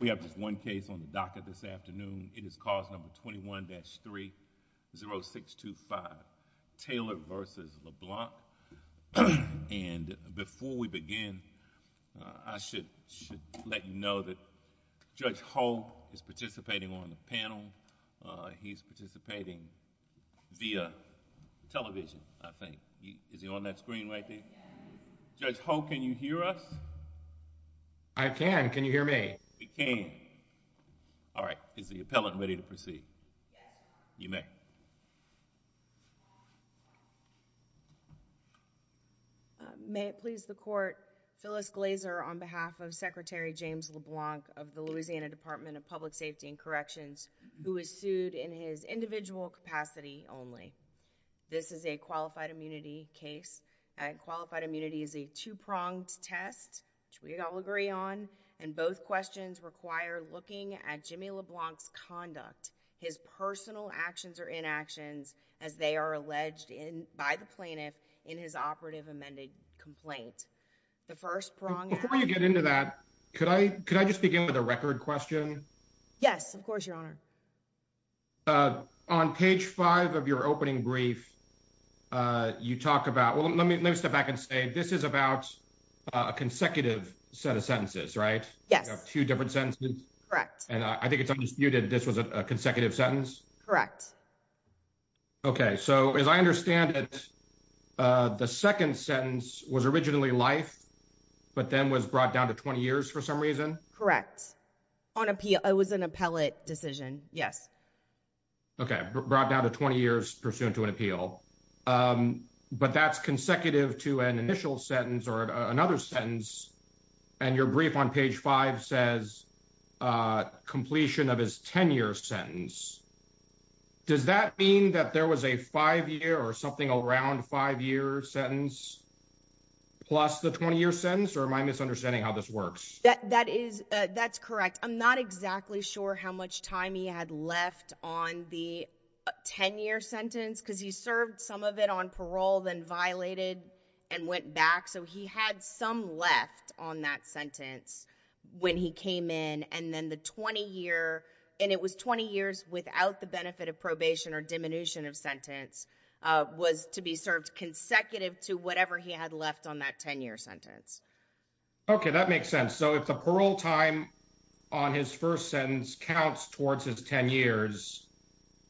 We have just one case on the docket this afternoon. It is cause number 21-30625, Taylor v. LeBlanc. And before we begin, I should let you know that Judge Holt is participating on the panel. He's participating via television, I think. Is he on that screen right there? Yes. Judge Holt, can you hear us? I can. Can you hear me? We can. All right. Is the appellant ready to proceed? Yes. You may. May it please the Court, Phyllis Glazer on behalf of Secretary James LeBlanc of the Louisiana Department of Public Safety and Corrections, who is sued in his individual capacity only. This is a qualified immunity case. Qualified immunity is a two-pronged test, which we all agree on, and both questions require looking at Jimmy LeBlanc's conduct, his personal actions or inactions, as they are alleged by the plaintiff in his operative amended complaint. The first prong... Before you get into that, could I just begin with a record question? Yes, of course, Your Honor. On page five of your opening brief, you talk about... Well, let me step back and say this is about a consecutive set of sentences, right? Yes. You have two different sentences? Correct. And I think it's undisputed this was a consecutive sentence? Correct. Okay. So, as I understand it, the second sentence was originally life, but then was brought down to 20 years for some reason? Correct. On appeal, it was an appellate decision. Yes. Okay. Brought down to 20 years pursuant to an appeal. But that's consecutive to an initial sentence or another sentence, and your brief on page five says completion of his 10-year sentence. Does that mean that there was a five-year or something around five-year sentence plus the 20-year sentence, or am I misunderstanding how this works? That is... That's correct. I'm not exactly sure how much time he had left on the 10-year sentence, because he served some of it on parole, then violated and went back. So, he had some left on that sentence when he came in, and then the 20-year... And it was 20 years without the benefit of probation or diminution of sentence was to be served consecutive to whatever he had left on that 10-year sentence. Okay. That makes sense. So, if the parole time on his first sentence counts towards his 10 years,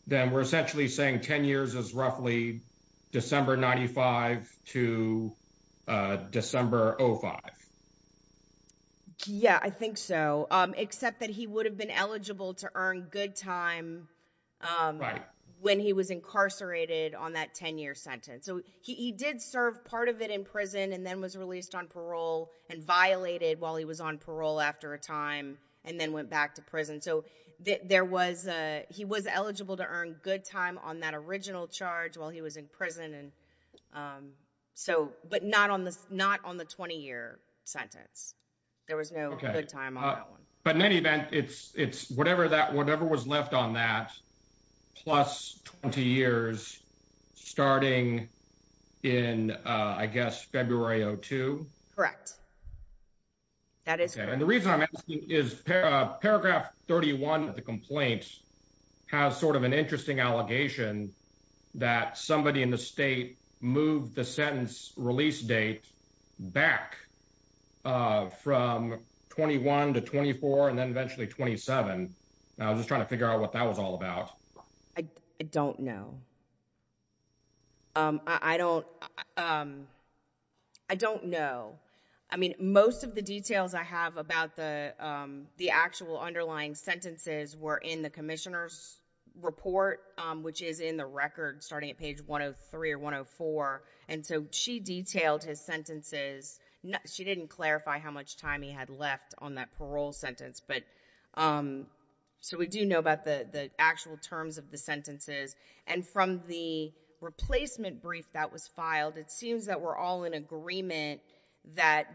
then we're essentially saying 10 years is roughly December 95 to December 05. Yeah, I think so, except that he would have been eligible to earn good time when he was incarcerated on that 10-year sentence. So, he did serve part of it in prison and then was released on parole and violated while he was on parole after a time and then went back to prison. So, there was... He was eligible to earn good time on that original charge while he was in prison, but not on the 20-year sentence. There was no good time on that one. But in any event, it's whatever was left on that plus 20 years starting in, I guess, February 02? Correct. That is correct. And the reason I'm asking is paragraph 31 of the complaint has sort of an interesting allegation that somebody in the state moved the sentence release date back from 21 to 24 and then eventually 27. I was just trying to figure out what that was all about. I don't know. I don't know. I mean, most of the details I have about the actual underlying sentences were in the commissioner's report, which is in the record starting at page 103 or 104. And so, she detailed his sentences. She didn't clarify how much time he had left on that parole sentence, but... So, we do know about the actual terms of the sentences. And from the replacement brief that was filed, it seems that we're all in agreement that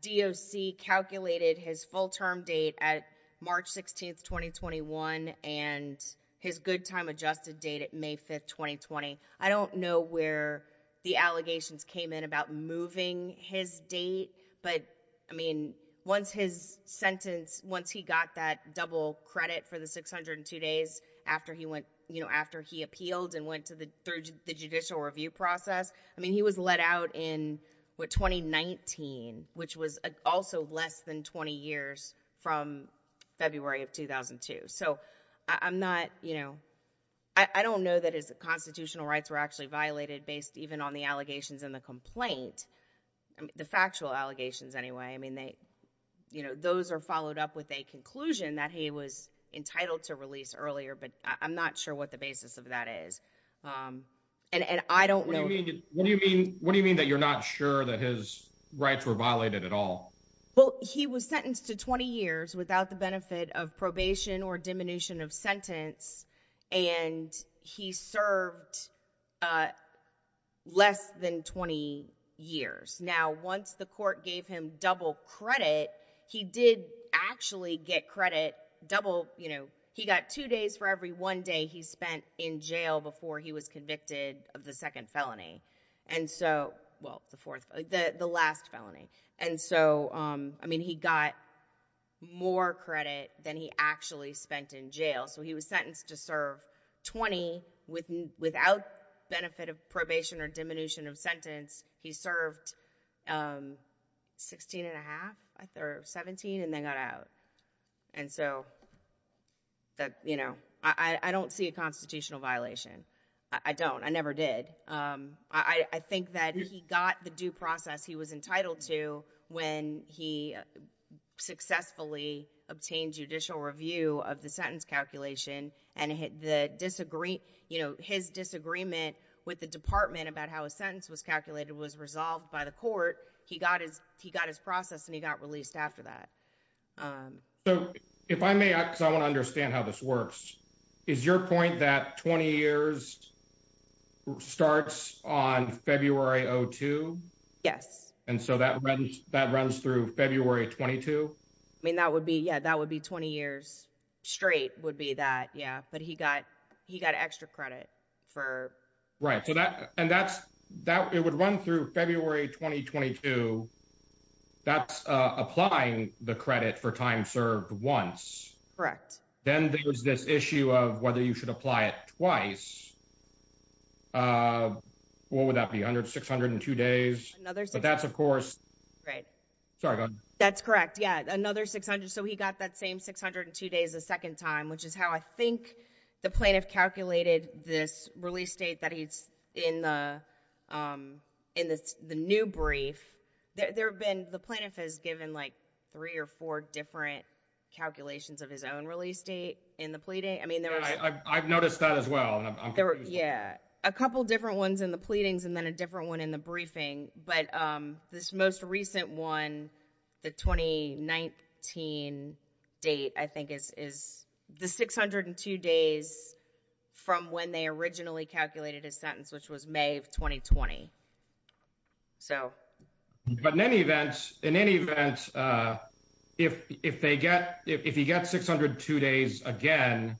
DOC calculated his full-term date at March 16, 2021, and his good time adjusted date at May 5, 2020. I don't know where the allegations came in about moving his date. But, I mean, once his sentence, once he got that double credit for 602 days after he appealed and went through the judicial review process, I mean, he was let out in 2019, which was also less than 20 years from February of 2002. So, I don't know that his constitutional rights were actually violated based even on the allegations in the complaint, the factual allegations anyway. I mean, those are followed up with a conclusion that he was entitled to release earlier, but I'm not sure what the basis of that is. And I don't know... What do you mean that you're not sure that his rights were violated at all? Well, he was sentenced to 20 years without the benefit of probation or diminution of sentence, and he served less than 20 years. Now, once the court gave him double credit, he did actually get credit double, you know, he got two days for every one day he spent in jail before he was convicted of the second felony. And so, well, the fourth, the last felony. And so, I mean, he got more credit than he actually spent in jail. So, he was sentenced to serve 20 without benefit of probation or diminution of sentence. He served 16 and a half or 17 and then got out. And so, that, you know, I don't see a constitutional violation. I don't. I never did. I think that he got the due process he was entitled to when he successfully obtained judicial review of the sentence calculation and his disagreement with the department about how a sentence was calculated was resolved by the court. He got his process and he got released after that. So, if I may, because I want to understand how this works, is your point that 20 years starts on February 02? Yes. And so, that runs through February 22? I mean, that would be 20 years straight would be that. Yeah. But he got extra credit for. Right. So, that. And that's. It would run through February 2022. That's applying the credit for time served once. Correct. Then there's this issue of whether you should apply it twice. What would that be? 602 days? Another. But that's, of course. Right. Sorry. That's correct. Yeah. Another 600. So, he got that same 602 days the second time which is how I think the plaintiff calculated this release date that he's in the new brief. There have been, the plaintiff has given like three or four different calculations of his own release date in the pleading. I mean, there was. I've noticed that as well. Yeah. A couple different ones in the pleadings and then a different one in the briefing. But this most recent 1, the 2019 date, I think is the 602 days. From when they originally calculated his sentence, which was May of 2020. So, but in any event, in any event. If they get if you get 602 days again.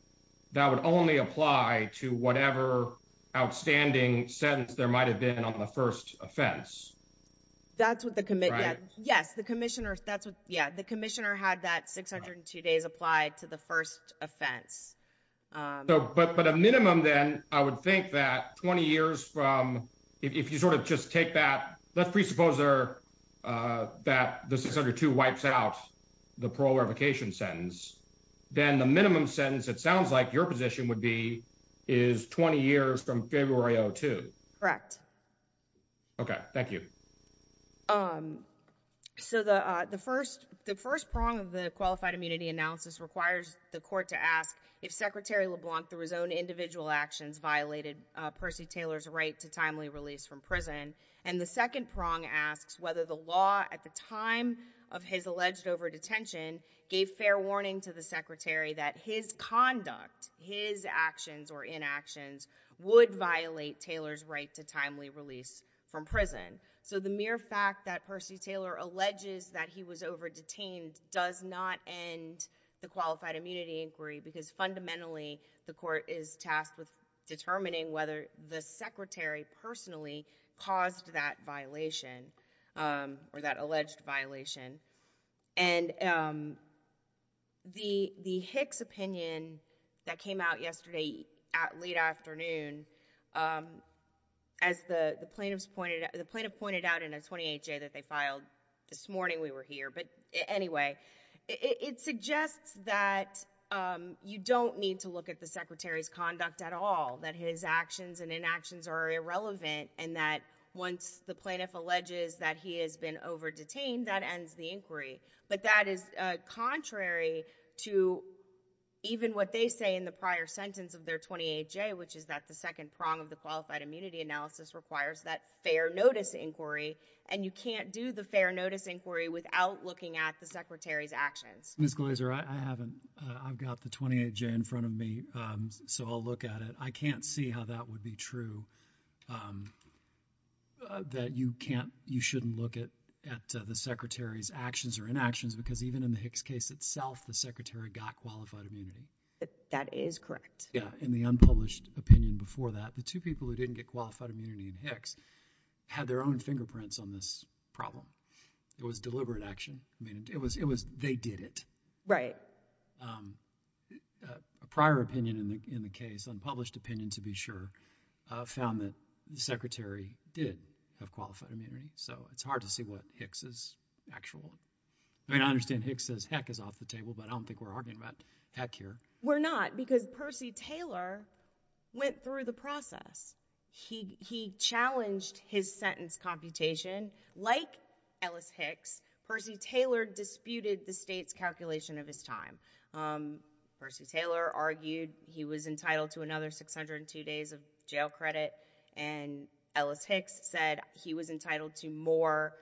That would only apply to whatever outstanding sentence there might have been on the 1st offense. That's what the, yes, the commissioner. That's what, yeah, the commissioner had that 602 days applied to the 1st offense. But a minimum, then I would think that 20 years from if you sort of just take that, let's presuppose there that the 602 wipes out the parole revocation sentence. Then the minimum sentence, it sounds like your position would be is 20 years from February 02. Correct. Okay, thank you. So the, the 1st, the 1st prong of the qualified immunity analysis requires the court to ask if Secretary LeBlanc through his own individual actions violated Percy Taylor's right to timely release from prison. And the 2nd prong asks whether the law at the time of his alleged over detention gave fair warning to the secretary that his conduct, his actions or inactions would violate Taylor's right to timely release from prison. So the mere fact that Percy Taylor alleges that he was over detained does not end the qualified immunity inquiry because fundamentally the court is tasked with determining whether the secretary personally caused that violation or that alleged violation. And the, the Hicks opinion that came out yesterday at late afternoon, as the plaintiffs pointed, the plaintiff pointed out in a 28-J that they filed this morning we were here. But anyway, it, it suggests that you don't need to look at the secretary's conduct at all. That his actions and inactions are irrelevant and that once the plaintiff alleges that he has been over detained, that ends the inquiry. But that is contrary to even what they say in the prior sentence of their 28-J, which is that the 2nd prong of the qualified immunity analysis requires that fair notice inquiry and you can't do the fair notice inquiry without looking at the secretary's actions. Ms. Glaser, I haven't, I've got the 28-J in front of me. So I'll look at it. I can't see how that would be true. That you can't, you shouldn't look at, at the secretary's actions or inactions because even in the Hicks case itself, the secretary got qualified immunity. That is correct. Yeah. In the unpublished opinion before that, the two people who didn't get qualified immunity in Hicks had their own fingerprints on this problem. It was deliberate action. I mean, it was, it was, they did it. Right. A prior opinion in the, in the case, unpublished opinion to be sure, found that the secretary did have qualified immunity. So it's hard to see what Hicks' actual, I mean, I understand Hicks' heck is off the table, but I don't think we're arguing about heck here. We're not because Percy Taylor went through the process. He, he challenged his sentence computation. Like Ellis Hicks, Percy Taylor disputed the state's calculation of his time. Percy Taylor argued he was entitled to another 602 days of jail credit. And Ellis Hicks said he was entitled to more,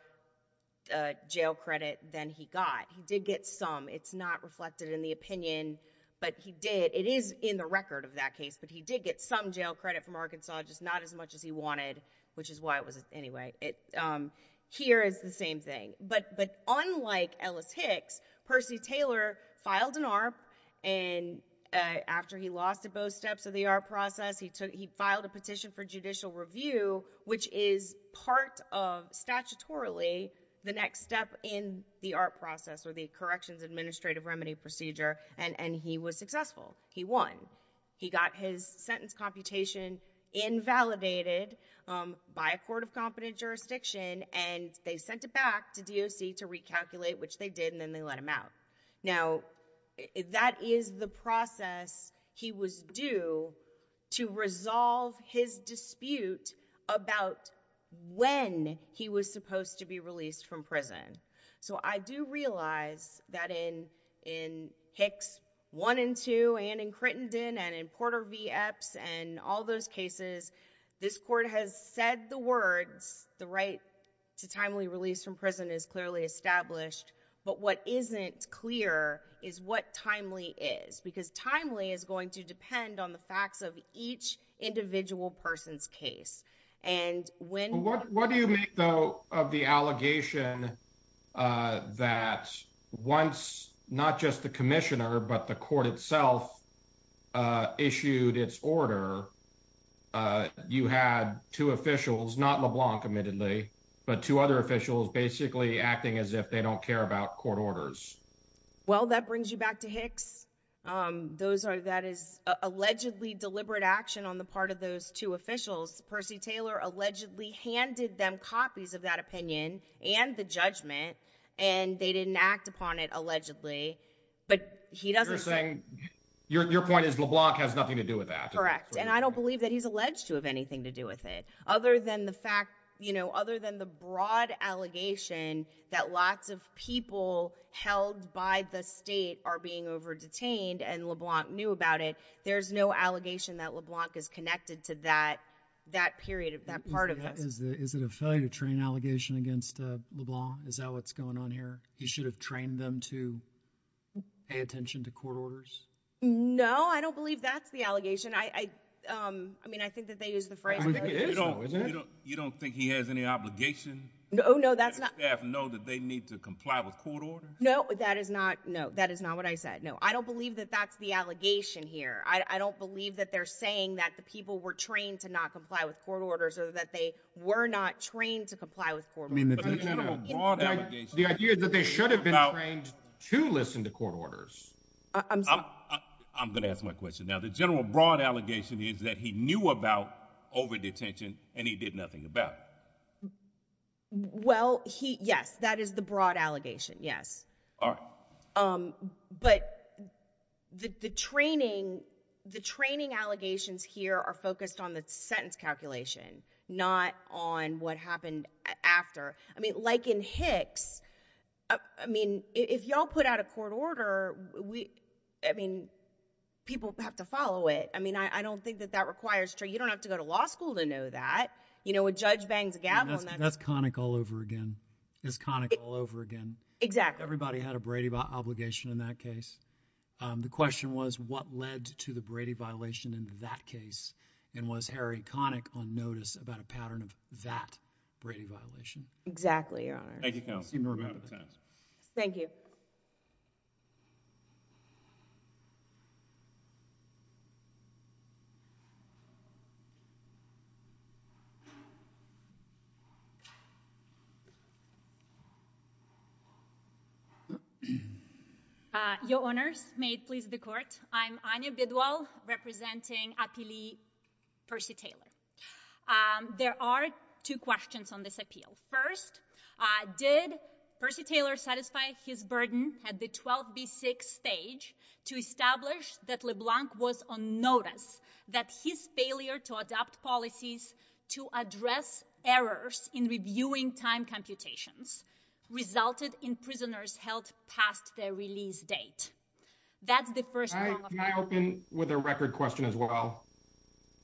uh, jail credit than he got. He did get some. It's not reflected in the opinion, but he did, it is in the record of that case, but he did get some jail credit from Arkansas, just not as much as he wanted, which is why it was, anyway, it, um, here is the same thing. But, but unlike Ellis Hicks, Percy Taylor filed an ARP, and after he lost at both steps of the ARP process, he took, he filed a petition for judicial review, which is part of, statutorily, the next step in the ARP process, or the Corrections Administrative Remedy Procedure, and, and he was successful. He won. He got his sentence computation invalidated, um, by a court of competent jurisdiction, and they sent it back to DOC to recalculate, which they did, and then they let him out. Now, that is the process he was due to resolve his dispute about when he was supposed to be released from prison. So, I do realize that in, in Hicks 1 and 2, and in Crittenden, and in Porter v. Epps, and all those cases, this court has said the words, the right to timely release from prison is clearly established, but what isn't clear is what timely is, because timely is going to depend on the facts of each individual person's case. And when- What, what do you make, though, of the allegation, uh, that once, not just the commissioner, but the court itself, uh, issued its order, uh, you had two officials, not LeBlanc, admittedly, but two other officials basically acting as if they don't care about court orders? Well, that brings you back to Hicks. Um, those are, that is allegedly deliberate action on the part of those two officials. Percy Taylor allegedly handed them copies of that opinion, and the judgment, and they didn't act upon it allegedly, but he doesn't say- You're saying, your, your point is LeBlanc has nothing to do with that? Correct. And I don't believe that he's alleged to have anything to do with it. Other than the fact, you know, other than the broad allegation that lots of people held by the state are being over-detained, and LeBlanc knew about it, there's no allegation that LeBlanc is connected to that, that period of, that part of this. Is it a failure to train allegation against, uh, LeBlanc? Is that what's going on here? He should have trained them to pay attention to court orders? No, I don't believe that's the allegation. I, I, um, I mean, I think that they use the phrase- I think it is though, isn't it? You don't, you don't think he has any obligation? No, no, that's not- To let staff know that they need to comply with court orders? No, that is not, no, that is not what I said. No, I don't believe that that's the allegation here. I, I don't believe that they're saying that the people were trained to not comply with were not trained to comply with court orders. I mean, the general broad allegation- The idea is that they should have been trained to listen to court orders. I'm, I'm, I'm, I'm going to ask my question now. The general broad allegation is that he knew about over-detention and he did nothing about it. Well, he, yes, that is the broad allegation, yes. All right. Um, but the, the training, the training allegations here are focused on the sentence calculation, not on what happened after. I mean, like in Hicks, I, I mean, if y'all put out a court order, we, I mean, people have to follow it. I mean, I, I don't think that that requires training. You don't have to go to law school to know that. You know, a judge bangs a gavel and then- That's Connick all over again. That's Connick all over again. Exactly. Everybody had a Brady violation in that case. Um, the question was what led to the Brady violation in that case? And was Harry Connick on notice about a pattern of that Brady violation? Exactly, Your Honor. Thank you, counsel. Excuse me, we're about out of time. Thank you. Uh, Your Honors, may it please the Court, I'm Anya Bidwell representing Appealee Percy Taylor. Um, there are two questions on this appeal. First, uh, did Percy Taylor satisfy his burden at the 12B6 stage to establish that LeBlanc was on notice, that his failure to adopt policies to address errors in reviewing time computations resulted in prisoners held past their release date? That's the first- Can I, can I open with a record question as well?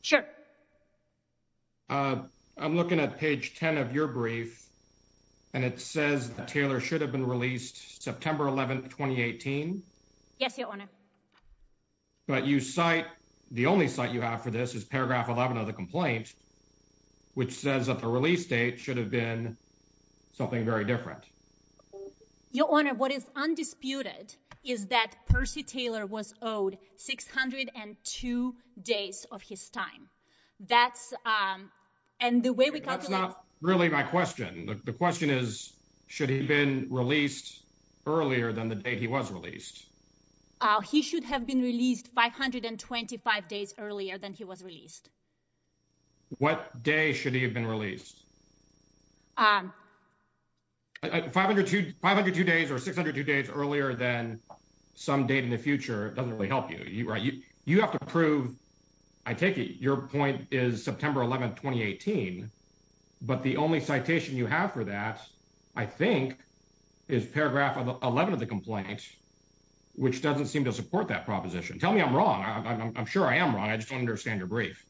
Sure. Uh, I'm looking at page 10 of your brief, and it says that Taylor should have been released September 11, 2018? Yes, Your Honor. But you cite, the only cite you have for this is paragraph 11 of the complaint, which says that the release date should have been something very different. Well, Your Honor, what is undisputed is that Percy Taylor was owed 602 days of his time. That's, um, and the way we- That's not really my question. The question is, should he have been released earlier than the date he was released? Uh, he should have been released 525 days earlier than he was released. What day should he have been released? 502, 502 days or 602 days earlier than some date in the future doesn't really help you, right? You, you have to prove, I take it, your point is September 11, 2018, but the only citation you have for that, I think, is paragraph 11 of the complaint, which doesn't seem to support that proposition. Tell me I'm wrong. I'm sure I am wrong. I just don't understand your brief.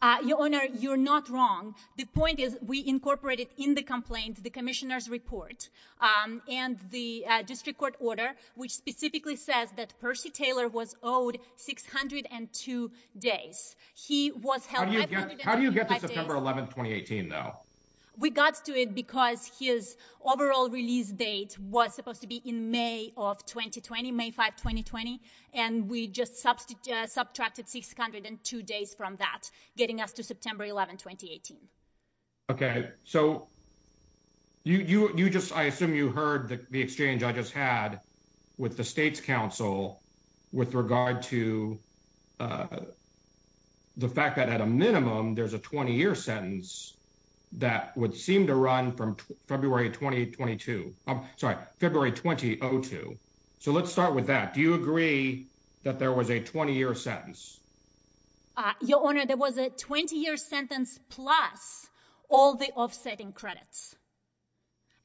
Uh, Your Honor, you're not wrong. The point is we incorporated in the complaint the commissioner's report, um, and the, uh, district court order, which specifically says that Percy Taylor was owed 602 days. He was held 525 days- How do you get to September 11, 2018, though? We got to it because his overall release date was supposed to be in May of 2020, May 5, 2020, and we just subtracted 602 days from that, getting us to September 11, 2018. Okay, so you, you just, I assume you heard the exchange I just had with the state's counsel with regard to, uh, the fact that at a minimum there's a 20-year sentence that would seem to run from February 2022. I'm sorry, February 2002. So let's start with that. Do you agree that there was a 20-year sentence? Your Honor, there was a 20-year sentence plus all the offsetting credits.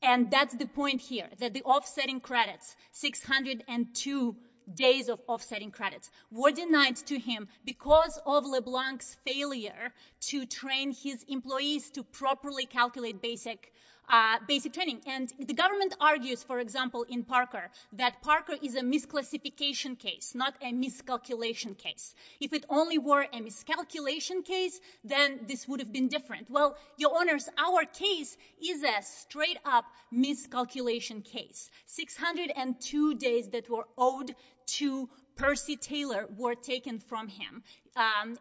And that's the point here, that the offsetting credits, 602 days of offsetting credits, were denied to him because of LeBlanc's failure to train his employees to properly calculate basic, and the government argues, for example, in Parker, that Parker is a misclassification case, not a miscalculation case. If it only were a miscalculation case, then this would have been different. Well, Your Honors, our case is a straight up miscalculation case. 602 days that were owed to Percy Taylor were taken from him.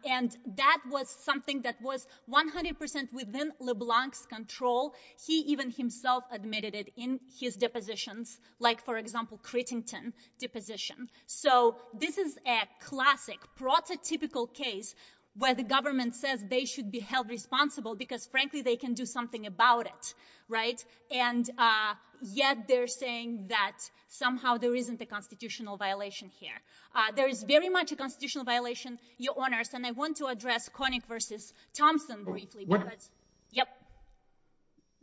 And that was something that was 100% within LeBlanc's control. He even himself admitted it in his depositions, like, for example, Cretington deposition. So this is a classic prototypical case where the government says they should be held responsible because, frankly, they can do something about it, right? And yet they're saying that somehow there isn't a constitutional violation here. There is very much a constitutional violation, Your Honors, and I want to address Koenig versus Thompson briefly. Go ahead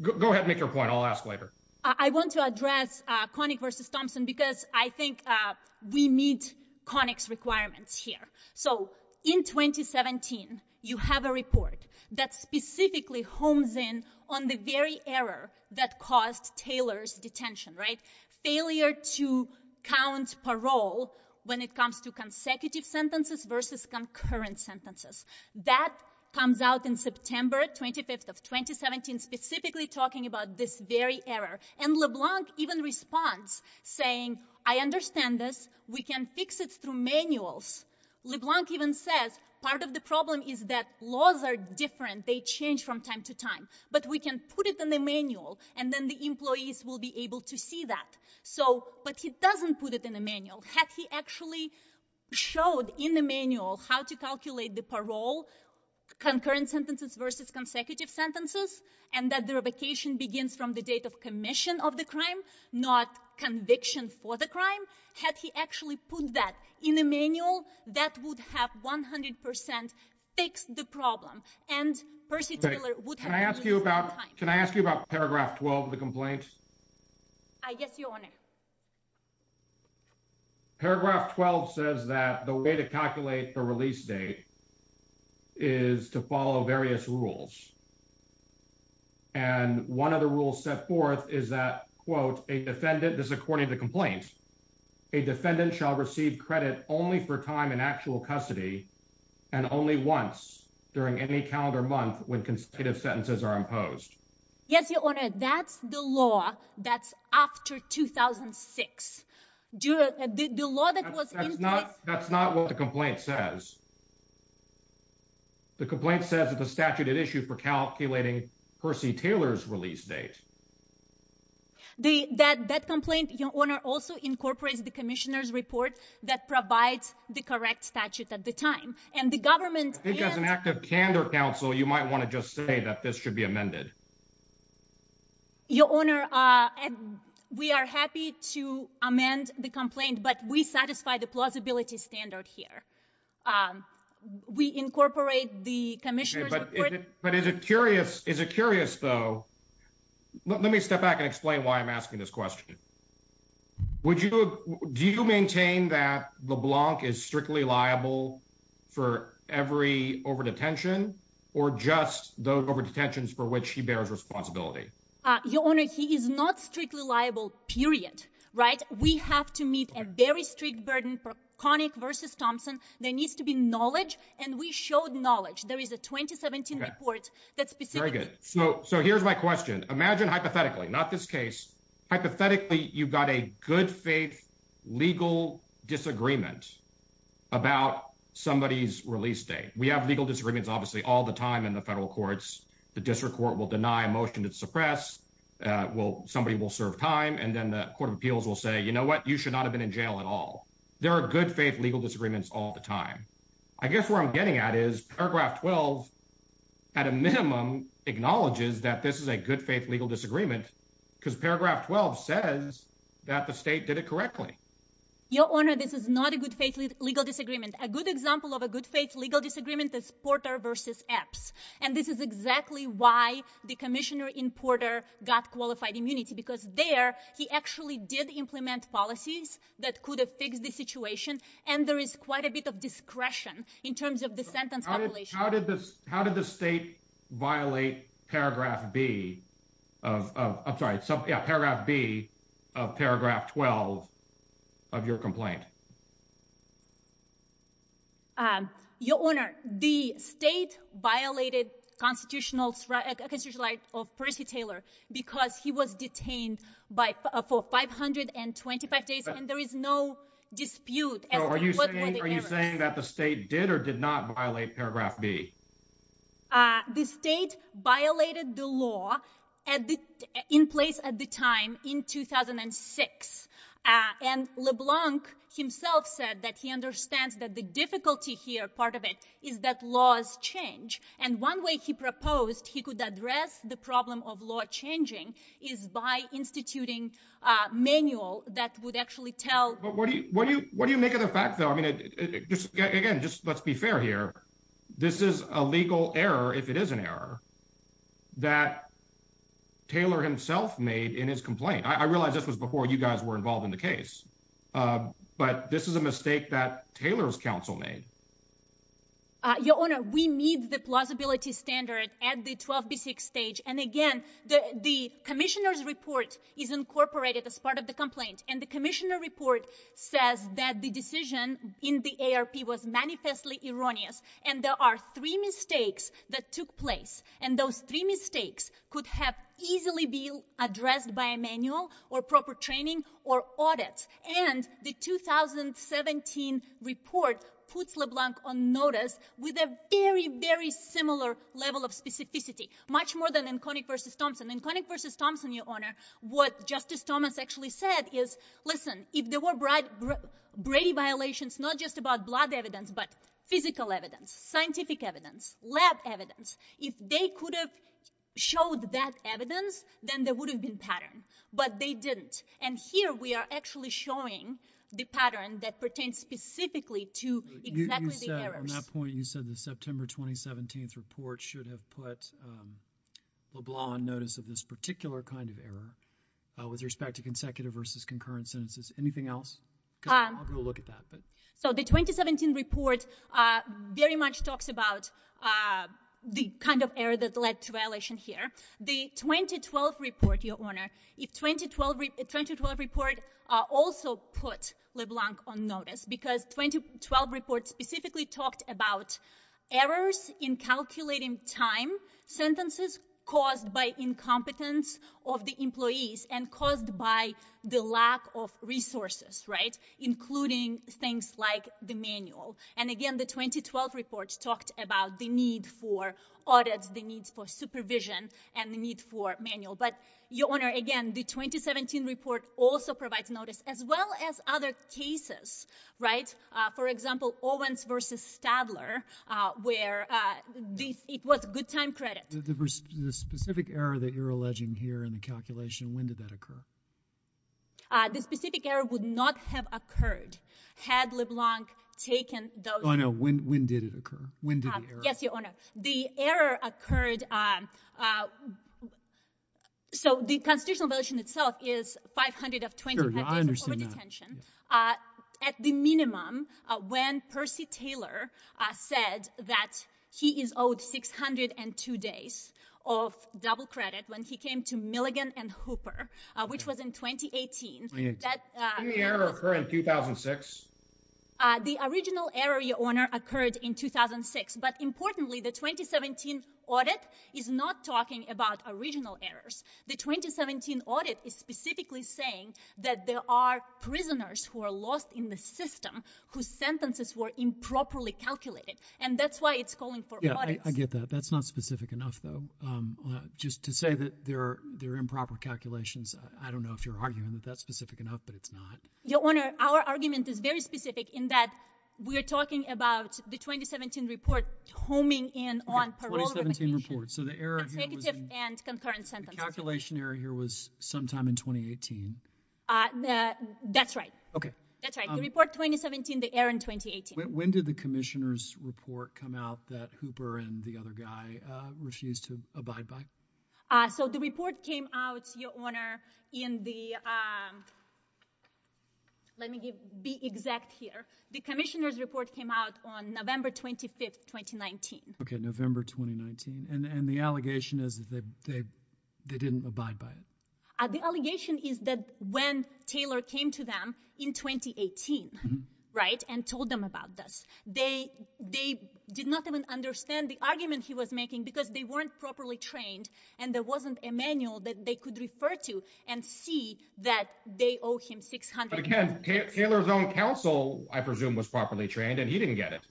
and make your point. I'll ask later. I want to address Koenig versus Thompson because I think we meet Koenig's requirements here. So in 2017, you have a report that specifically homes in on the very error that caused Taylor's detention, right? Failure to count parole when it comes to consecutive sentences versus concurrent sentences. That comes out in September 25th of 2017, specifically talking about this very error. And LeBlanc even responds saying, I understand this. We can fix it through manuals. LeBlanc even says part of the problem is that laws are different. They change from time to time. But we can put it in the manual, and then the employees will be able to see that. But he doesn't put it in the manual. Had he actually showed in the manual how to calculate the parole, concurrent sentences versus consecutive sentences, and that the revocation begins from the date of commission of the crime, not conviction for the crime, had he actually put that in the manual, that would have 100% fixed the problem. And Percy Taylor would have... Can I ask you about paragraph 12 of the complaint? Yes, Your Honor. Paragraph 12 says that the way to calculate the release date is to follow various rules. And one of the rules set forth is that, quote, a defendant, this is according to complaint, a defendant shall receive credit only for time in actual custody and only once during any calendar month when consecutive sentences are imposed. Yes, Your Honor. That's the law that's after 2006. That's not what the complaint says. The complaint says that the statute had issued for calculating Percy Taylor's release date. That complaint, Your Honor, also incorporates the commissioner's report that provides the correct statute at the time. And the government... I think as an act of candor, counsel, you might want to just say that this should be amended. Your Honor, we are happy to amend the complaint, but we satisfy the plausibility standard here. We incorporate the commissioner's report... But is it curious, though... Let me step back and explain why I'm asking this question. Would you... Do you maintain that LeBlanc is strictly liable for every over-detention or just those over-detentions for which he bears responsibility? Your Honor, he is not strictly liable, period, right? We have to meet a very strict burden versus Thompson. There needs to be knowledge, and we showed knowledge. There is a 2017 report that specifically... Very good. So here's my question. Imagine hypothetically, not this case. Hypothetically, you've got a good faith legal disagreement about somebody's release date. We have legal disagreements, obviously, all the time in the federal courts. The district court will deny a motion to suppress. Somebody will serve time, and then the court of appeals will say, you should not have been in jail at all. There are good faith legal disagreements all the time. I guess where I'm getting at is paragraph 12, at a minimum, acknowledges that this is a good faith legal disagreement because paragraph 12 says that the state did it correctly. Your Honor, this is not a good faith legal disagreement. A good example of a good faith legal disagreement is Porter v. Epps, and this is exactly why the commissioner in Porter got policies that could have fixed the situation, and there is quite a bit of discretion in terms of the sentence compilation. How did the state violate paragraph B of paragraph 12 of your complaint? Your Honor, the state violated constitutional right of Percy Taylor because he was detained for 525 days, and there is no dispute as to what were the errors. Are you saying that the state did or did not violate paragraph B? The state violated the law in place at the time in 2006, and LeBlanc himself said that he understands that the difficulty here, part of it, is that laws change. One way he proposed he could address the problem of law changing is by instituting a manual that would actually tell— But what do you make of the fact, though? Again, let's be fair here. This is a legal error, if it is an error, that Taylor himself made in his complaint. I realize this was before you guys were involved in the case, but this is a mistake that Taylor's counsel made. Your Honor, we meet the plausibility standard at the 12B6 stage, and again, the commissioner's report is incorporated as part of the complaint, and the commissioner report says that the decision in the ARP was manifestly erroneous, and there are three mistakes that took place, and those three mistakes could have easily been addressed by a manual or proper training or audit, and the 2017 report puts LeBlanc on notice with a very, very similar level of specificity, much more than in Koenig v. Thompson. In Koenig v. Thompson, Your Honor, what Justice Thomas actually said is, listen, if there were Brady violations, not just about blood evidence, but physical evidence, scientific evidence, lab evidence, if they could have showed that evidence, then there would have been pattern, but they didn't, and here we are actually showing the pattern that pertains specifically to exactly the errors. On that point, you said the September 2017 report should have put LeBlanc on notice of this particular kind of error with respect to consecutive versus concurrent sentences. Anything else? I'll go look at that. So the 2017 report very much talks about the kind of error that led to violation here. The 2012 report, Your Honor, the 2012 report also put LeBlanc on notice because the 2012 report specifically talked about errors in calculating time sentences caused by incompetence of the employees and caused by the lack of resources, including things like the manual, and again, the 2012 report talked about the need for audits, the needs for supervision, and the need for manual, but Your Honor, again, the 2017 report also provides notice, as well as other cases, right? For example, Owens v. Stadler, where it was good time credit. The specific error that you're alleging here in the calculation, when did that occur? The specific error would not have occurred had LeBlanc taken those— No, when did it occur? When did the error occur? Yes, Your Honor. The error occurred—so the constitutional violation itself is 520— Sure, I understand that. —pacts of over-detention. At the minimum, when Percy Taylor said that he is owed 602 days of double credit when he came to Milligan and Hooper, which was in 2018, that— Did the error occur in 2006? The original error, Your Honor, occurred in 2006, but importantly, the 2017 audit is not talking about original errors. The 2017 audit is specifically saying that there are prisoners who are lost in the system whose sentences were improperly calculated, and that's why it's calling for audits. Yeah, I get that. That's not specific enough, though. Just to say that there are improper calculations, I don't know if you're arguing that that's specific enough, but it's not. Your Honor, our argument is very specific in that we are talking about the 2017 report homing in on parole remuneration— Okay, 2017 report. So the error here was in— —consecutive and concurrent sentences. The calculation error here was sometime in 2018. That's right. Okay. That's right. The report 2017, the error in 2018. When did the commissioner's report come out that Hooper and the other guy refused to abide by? So the report came out, Your Honor, in the—let me be exact here. The commissioner's report came out on November 25, 2019. Okay, November 2019. And the allegation is that they didn't abide by it? The allegation is that when Taylor came to them in 2018, right, and told them about this, they did not even understand the argument he was making because they weren't properly trained and there wasn't a manual that they could refer to and see that they owe him $600,000. But again, Taylor's own counsel, I presume, was properly trained and he didn't get it.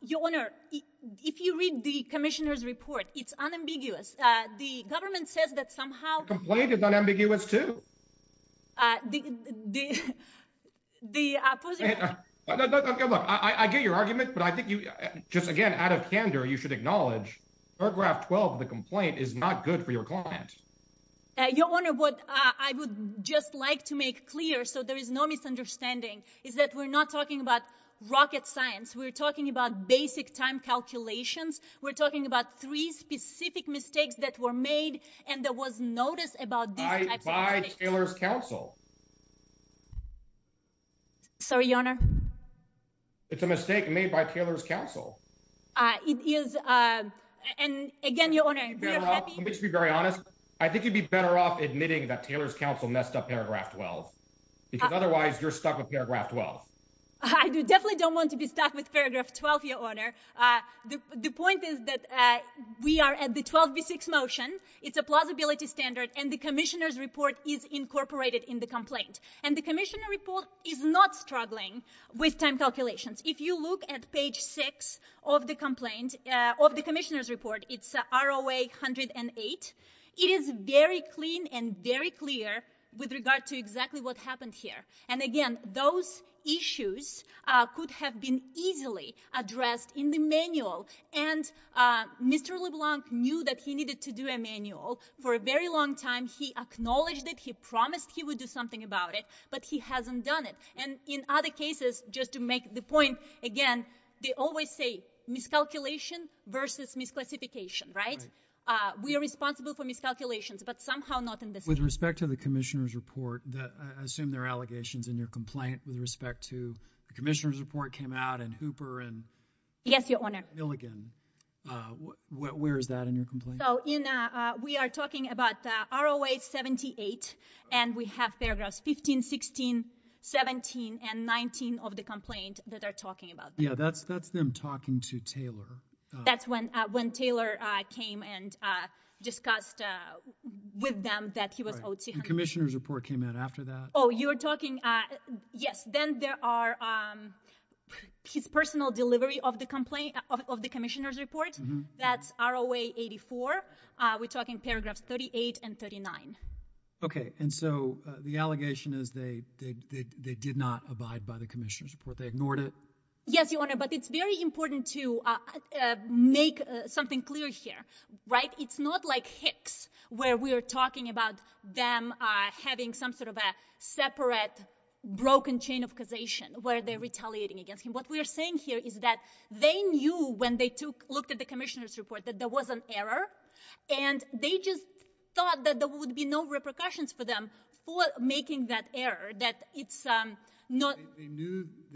Your Honor, if you read the commissioner's report, it's unambiguous. The government says that somehow— The complaint is unambiguous, too. Uh, the—the—the opposite— Hey, look, I get your argument, but I think you—just again, out of candor, you should acknowledge paragraph 12 of the complaint is not good for your client. Your Honor, what I would just like to make clear so there is no misunderstanding is that we're not talking about rocket science. We're talking about basic time calculations. We're talking about three specific mistakes that were made and there was notice about these types It's a mistake made by Taylor's counsel. Sorry, Your Honor. It's a mistake made by Taylor's counsel. Uh, it is, uh, and again, Your Honor, we are happy— Let me just be very honest. I think you'd be better off admitting that Taylor's counsel messed up paragraph 12 because otherwise you're stuck with paragraph 12. I definitely don't want to be stuck with paragraph 12, Your Honor. The point is that we are at the 12b6 motion. It's a plausibility standard and the commissioner's incorporated in the complaint and the commissioner report is not struggling with time calculations. If you look at page six of the complaint, of the commissioner's report, it's ROA 108. It is very clean and very clear with regard to exactly what happened here. And again, those issues could have been easily addressed in the manual. And Mr. LeBlanc knew that he needed to do a manual for a very long time. He acknowledged it. He promised he would do something about it, but he hasn't done it. And in other cases, just to make the point again, they always say miscalculation versus misclassification, right? We are responsible for miscalculations, but somehow not in this case. With respect to the commissioner's report, I assume there are allegations in your complaint with respect to the commissioner's report came out and Hooper and— Yes, Your Honor. Milligan. Where is that in your complaint? We are talking about ROA 78. And we have paragraphs 15, 16, 17, and 19 of the complaint that are talking about that. Yeah, that's them talking to Taylor. That's when Taylor came and discussed with them that he was owed— Commissioner's report came out after that. Oh, you're talking—yes. Then there are his personal delivery of the commissioner's report. That's ROA 84. We're talking paragraphs 38 and 39. Okay. And so the allegation is they did not abide by the commissioner's report. They ignored it. Yes, Your Honor. But it's very important to make something clear here, right? It's not like Hicks where we are talking about them having some sort of a separate broken chain of causation where they're retaliating against him. What we are saying here is that they knew when they looked at the commissioner's report that there was an error, and they just thought that there would be no repercussions for them for making that error, that it's not— They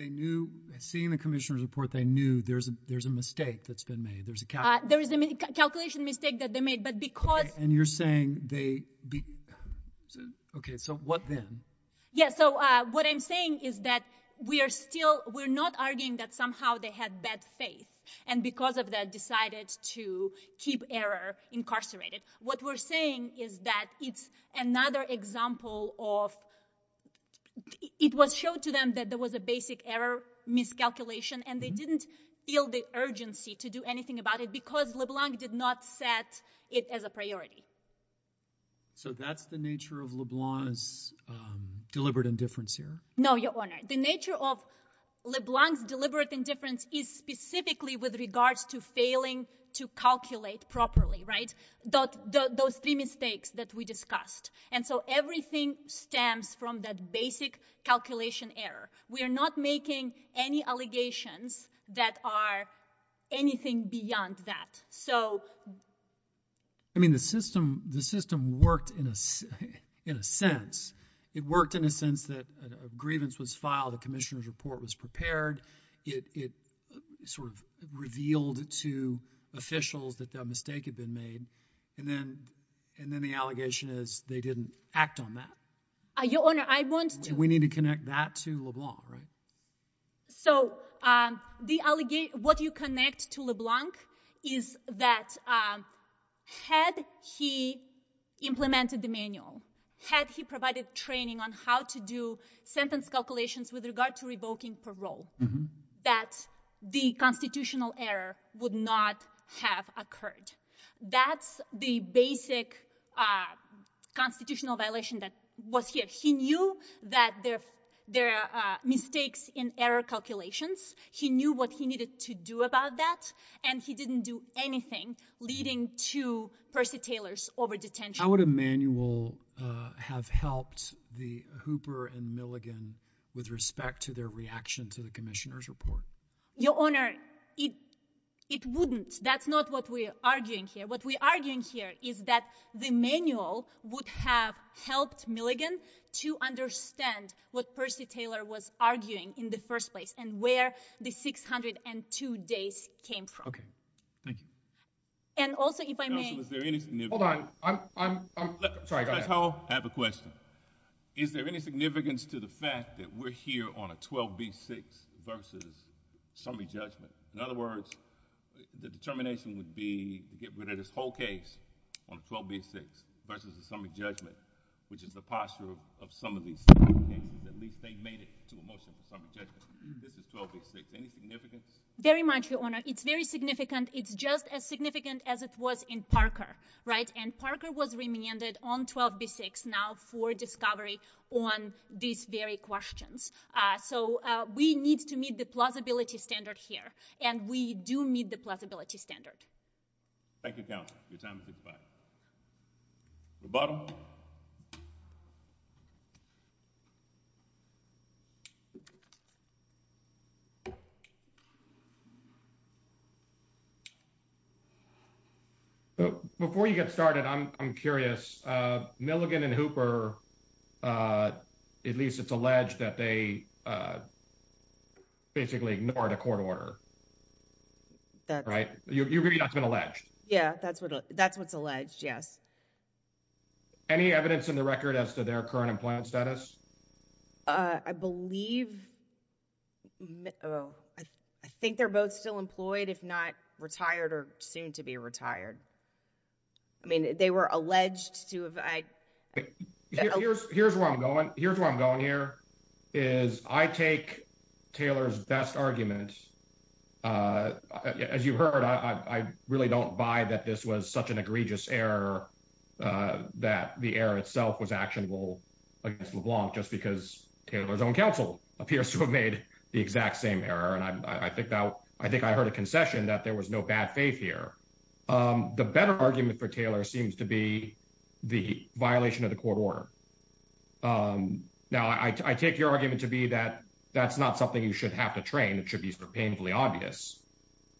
knew—seeing the commissioner's report, they knew there's a mistake that's been made. There's a calculation— There is a calculation mistake that they made, but because— And you're saying they—okay, so what then? Yeah, so what I'm saying is that we are still—we're not arguing that somehow they had bad faith and because of that decided to keep error incarcerated. What we're saying is that it's another example of—it was shown to them that there was a basic error miscalculation, and they didn't feel the urgency to do anything about it because LeBlanc did not set it as a priority. So that's the nature of LeBlanc's deliberate indifference here? No, Your Honor. The nature of LeBlanc's deliberate indifference is specifically with regards to failing to calculate properly, right? Those three mistakes that we discussed. And so everything stems from that basic calculation error. We are not making any allegations that are anything beyond that. So— I mean, the system worked in a sense. It worked in a sense that a grievance was filed, a commissioner's report was prepared. It sort of revealed to officials that that mistake had been made, and then the allegation is they didn't act on that. Your Honor, I want to— We need to connect that to LeBlanc, right? So what you connect to LeBlanc is that had he implemented the manual, had he provided training on how to do sentence calculations with regard to revoking parole, that the constitutional error would not have occurred. That's the basic constitutional violation that was here. He knew that there are mistakes in error calculations. He knew what he needed to do about that, and he didn't do anything leading to Percy Taylor's over-detention. How would a manual have helped the Hooper and Milligan with respect to their reaction to the commissioner's report? Your Honor, it wouldn't. That's not what we're arguing here. What we're arguing here is that the manual would have helped Milligan to understand what Percy Taylor was arguing in the first place and where the 602 days came from. Okay. Thank you. And also, if I may— Counsel, is there any significance— Hold on. Sorry, go ahead. I have a question. Is there any significance to the fact that we're here on a 12B6 versus summary judgment? In other words, the determination would be to get rid of this whole case on 12B6 versus the summary judgment, which is the posture of some of these cases. At least they made it to a motion for summary judgment. This is 12B6. Any significance? Very much, Your Honor. It's very significant. It's just as significant as it was in Parker, right? And Parker was remanded on 12B6 now for discovery on these very questions. So, we need to meet the plausibility standard here. And we do meet the plausibility standard. Thank you, Counsel. Your time has expired. The bottom. Before you get started, I'm curious. Milligan and Hooper, at least it's alleged that they basically ignored a court order, right? You agree that's been alleged? Yeah, that's what's alleged, yes. Any evidence in the record as to their current employment status? I believe—oh, I think they're both still employed, if not retired or soon to be retired. I mean, they were alleged to have— Here's where I'm going. Here's where I'm going here, is I take Taylor's best argument. As you've heard, I really don't buy that this was such an egregious error that the error itself was actionable against LeBlanc, just because Taylor's own counsel appears to have made the exact same error. And I think I heard a concession that there was no bad faith here. The better argument for Taylor seems to be the violation of the court order. Now, I take your argument to be that that's not something you should have to train. It should be painfully obvious.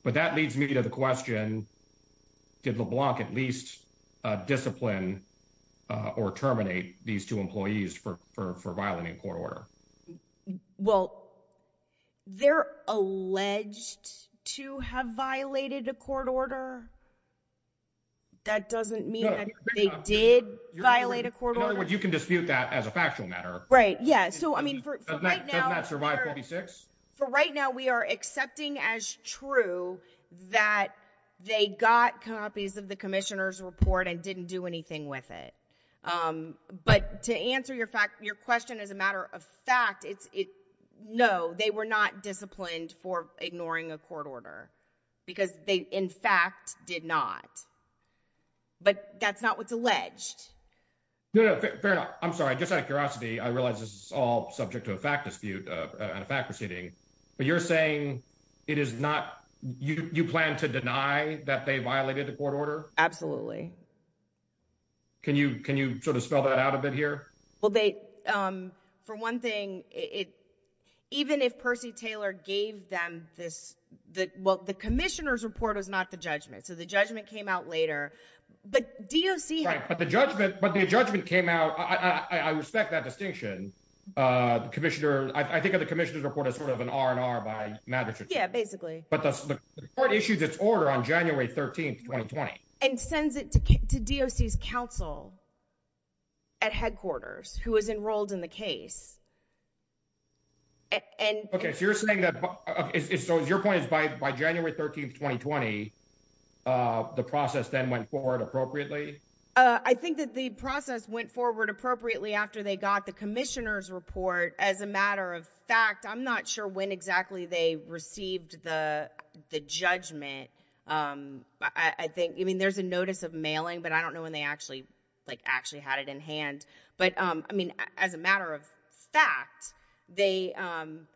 But that leads me to the question, did LeBlanc at least discipline or terminate these two employees for violating a court order? Well, they're alleged to have violated a court order. That doesn't mean that they did violate a court order? In other words, you can dispute that as a factual matter. Right, yeah. So, I mean, for right now— Doesn't that survive 46? For right now, we are accepting as true that they got copies of the commissioner's report and didn't do anything with it. But to answer your question as a matter of fact, no, they were not disciplined for ignoring a court order, because they, in fact, did not. But that's not what's alleged. No, no, fair enough. I'm sorry. Just out of curiosity, I realize this is all subject to a fact dispute and a fact proceeding, but you're saying it is not—you plan to deny that they violated the court order? Absolutely. Can you sort of spell that out a bit here? Well, for one thing, even if Percy Taylor gave them this—well, the commissioner's report was not the judgment. So the judgment came out later. But DOC— Right, but the judgment came out—I respect that distinction. I think of the commissioner's report as sort of an R&R by magistrate. Yeah, basically. But the court issues its order on January 13, 2020. And sends it to DOC's counsel at headquarters, who was enrolled in the case. Okay, so you're saying that—so your point is by January 13, 2020, the process then went forward appropriately? I think that the process went forward appropriately after they got the commissioner's report. As a matter of fact, I'm not sure when exactly they received the judgment. I mean, there's a notice of mailing, but I don't know when they actually had it in hand. But I mean, as a matter of fact, they—I'm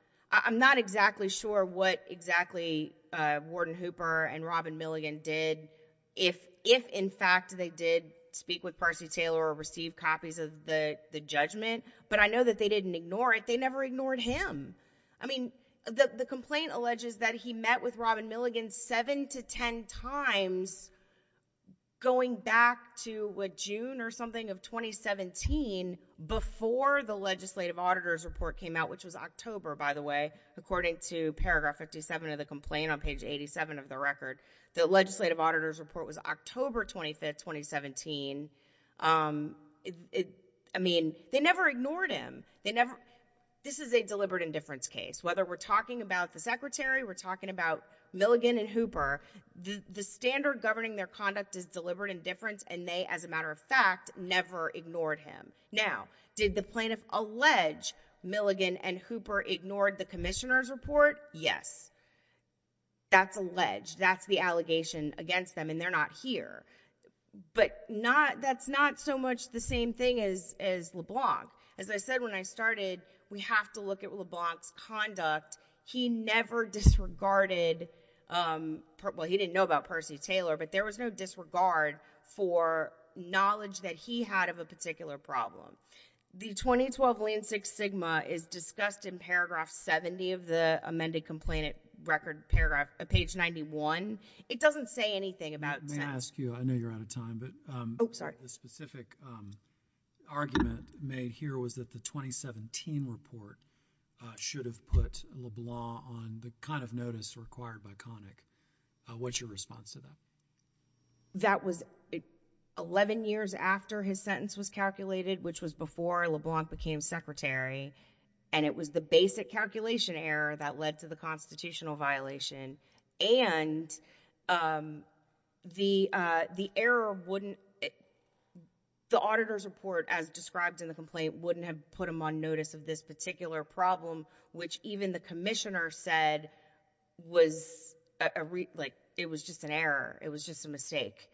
not exactly sure what exactly Gordon Hooper and Robin Milligan did if, in fact, they did speak with Percy Taylor or receive copies of the judgment. But I know that they didn't ignore it. They never ignored him. I mean, the complaint alleges that he met with Robin Milligan seven to ten times going back to June or something of 2017 before the legislative auditor's report came out, which was October, by the way, according to paragraph 57 of the complaint on page 87 of the record. The legislative auditor's report was October 25, 2017. I mean, they never ignored him. They never—this is a deliberate indifference case. Whether we're talking about the secretary, we're talking about Milligan and Hooper, the standard governing their conduct is deliberate indifference, and they, as a matter of fact, never ignored him. Now, did the plaintiff allege Milligan and Hooper ignored the commissioner's report? Yes. That's alleged. That's the allegation against them, and they're not here. But not—that's not so much the same thing as LeBlanc. As I said when I started, we have to look at LeBlanc's conduct. He never disregarded—well, he didn't know about Percy Taylor, but there was no disregard for knowledge that he had of a particular problem. The 2012 lien six sigma is discussed in paragraph 70 of the amended complaint record, paragraph—page 91. It doesn't say anything about— May I ask you—I know you're out of time, but— Oh, sorry. —the specific argument made here was that the 2017 report should have put LeBlanc on the kind of notice required by CONIC. What's your response to that? That was 11 years after his sentence was calculated, which was before LeBlanc became secretary, and it was the basic calculation error that led to the constitutional violation, and the error wouldn't—the auditor's report, as described in the complaint, wouldn't have put him on notice of this particular problem, which even the commissioner said was a—it was just an error. It was just a mistake.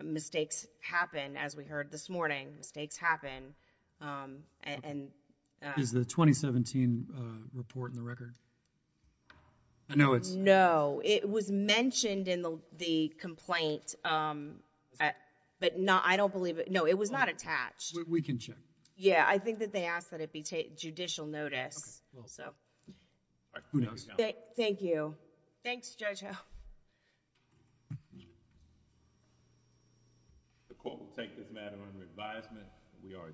Mistakes happen, as we heard this morning. Mistakes happen, and— Is the 2017 report in the record? I know it's— No. It was mentioned in the complaint, but I don't believe it—no, it was not attached. We can check. Yeah. I think that they asked that it be judicial notice. Okay, well— So. All right. Who knows? Thank you. Thanks, Judge Ho. The court will take this matter under advisement. We are adjourned.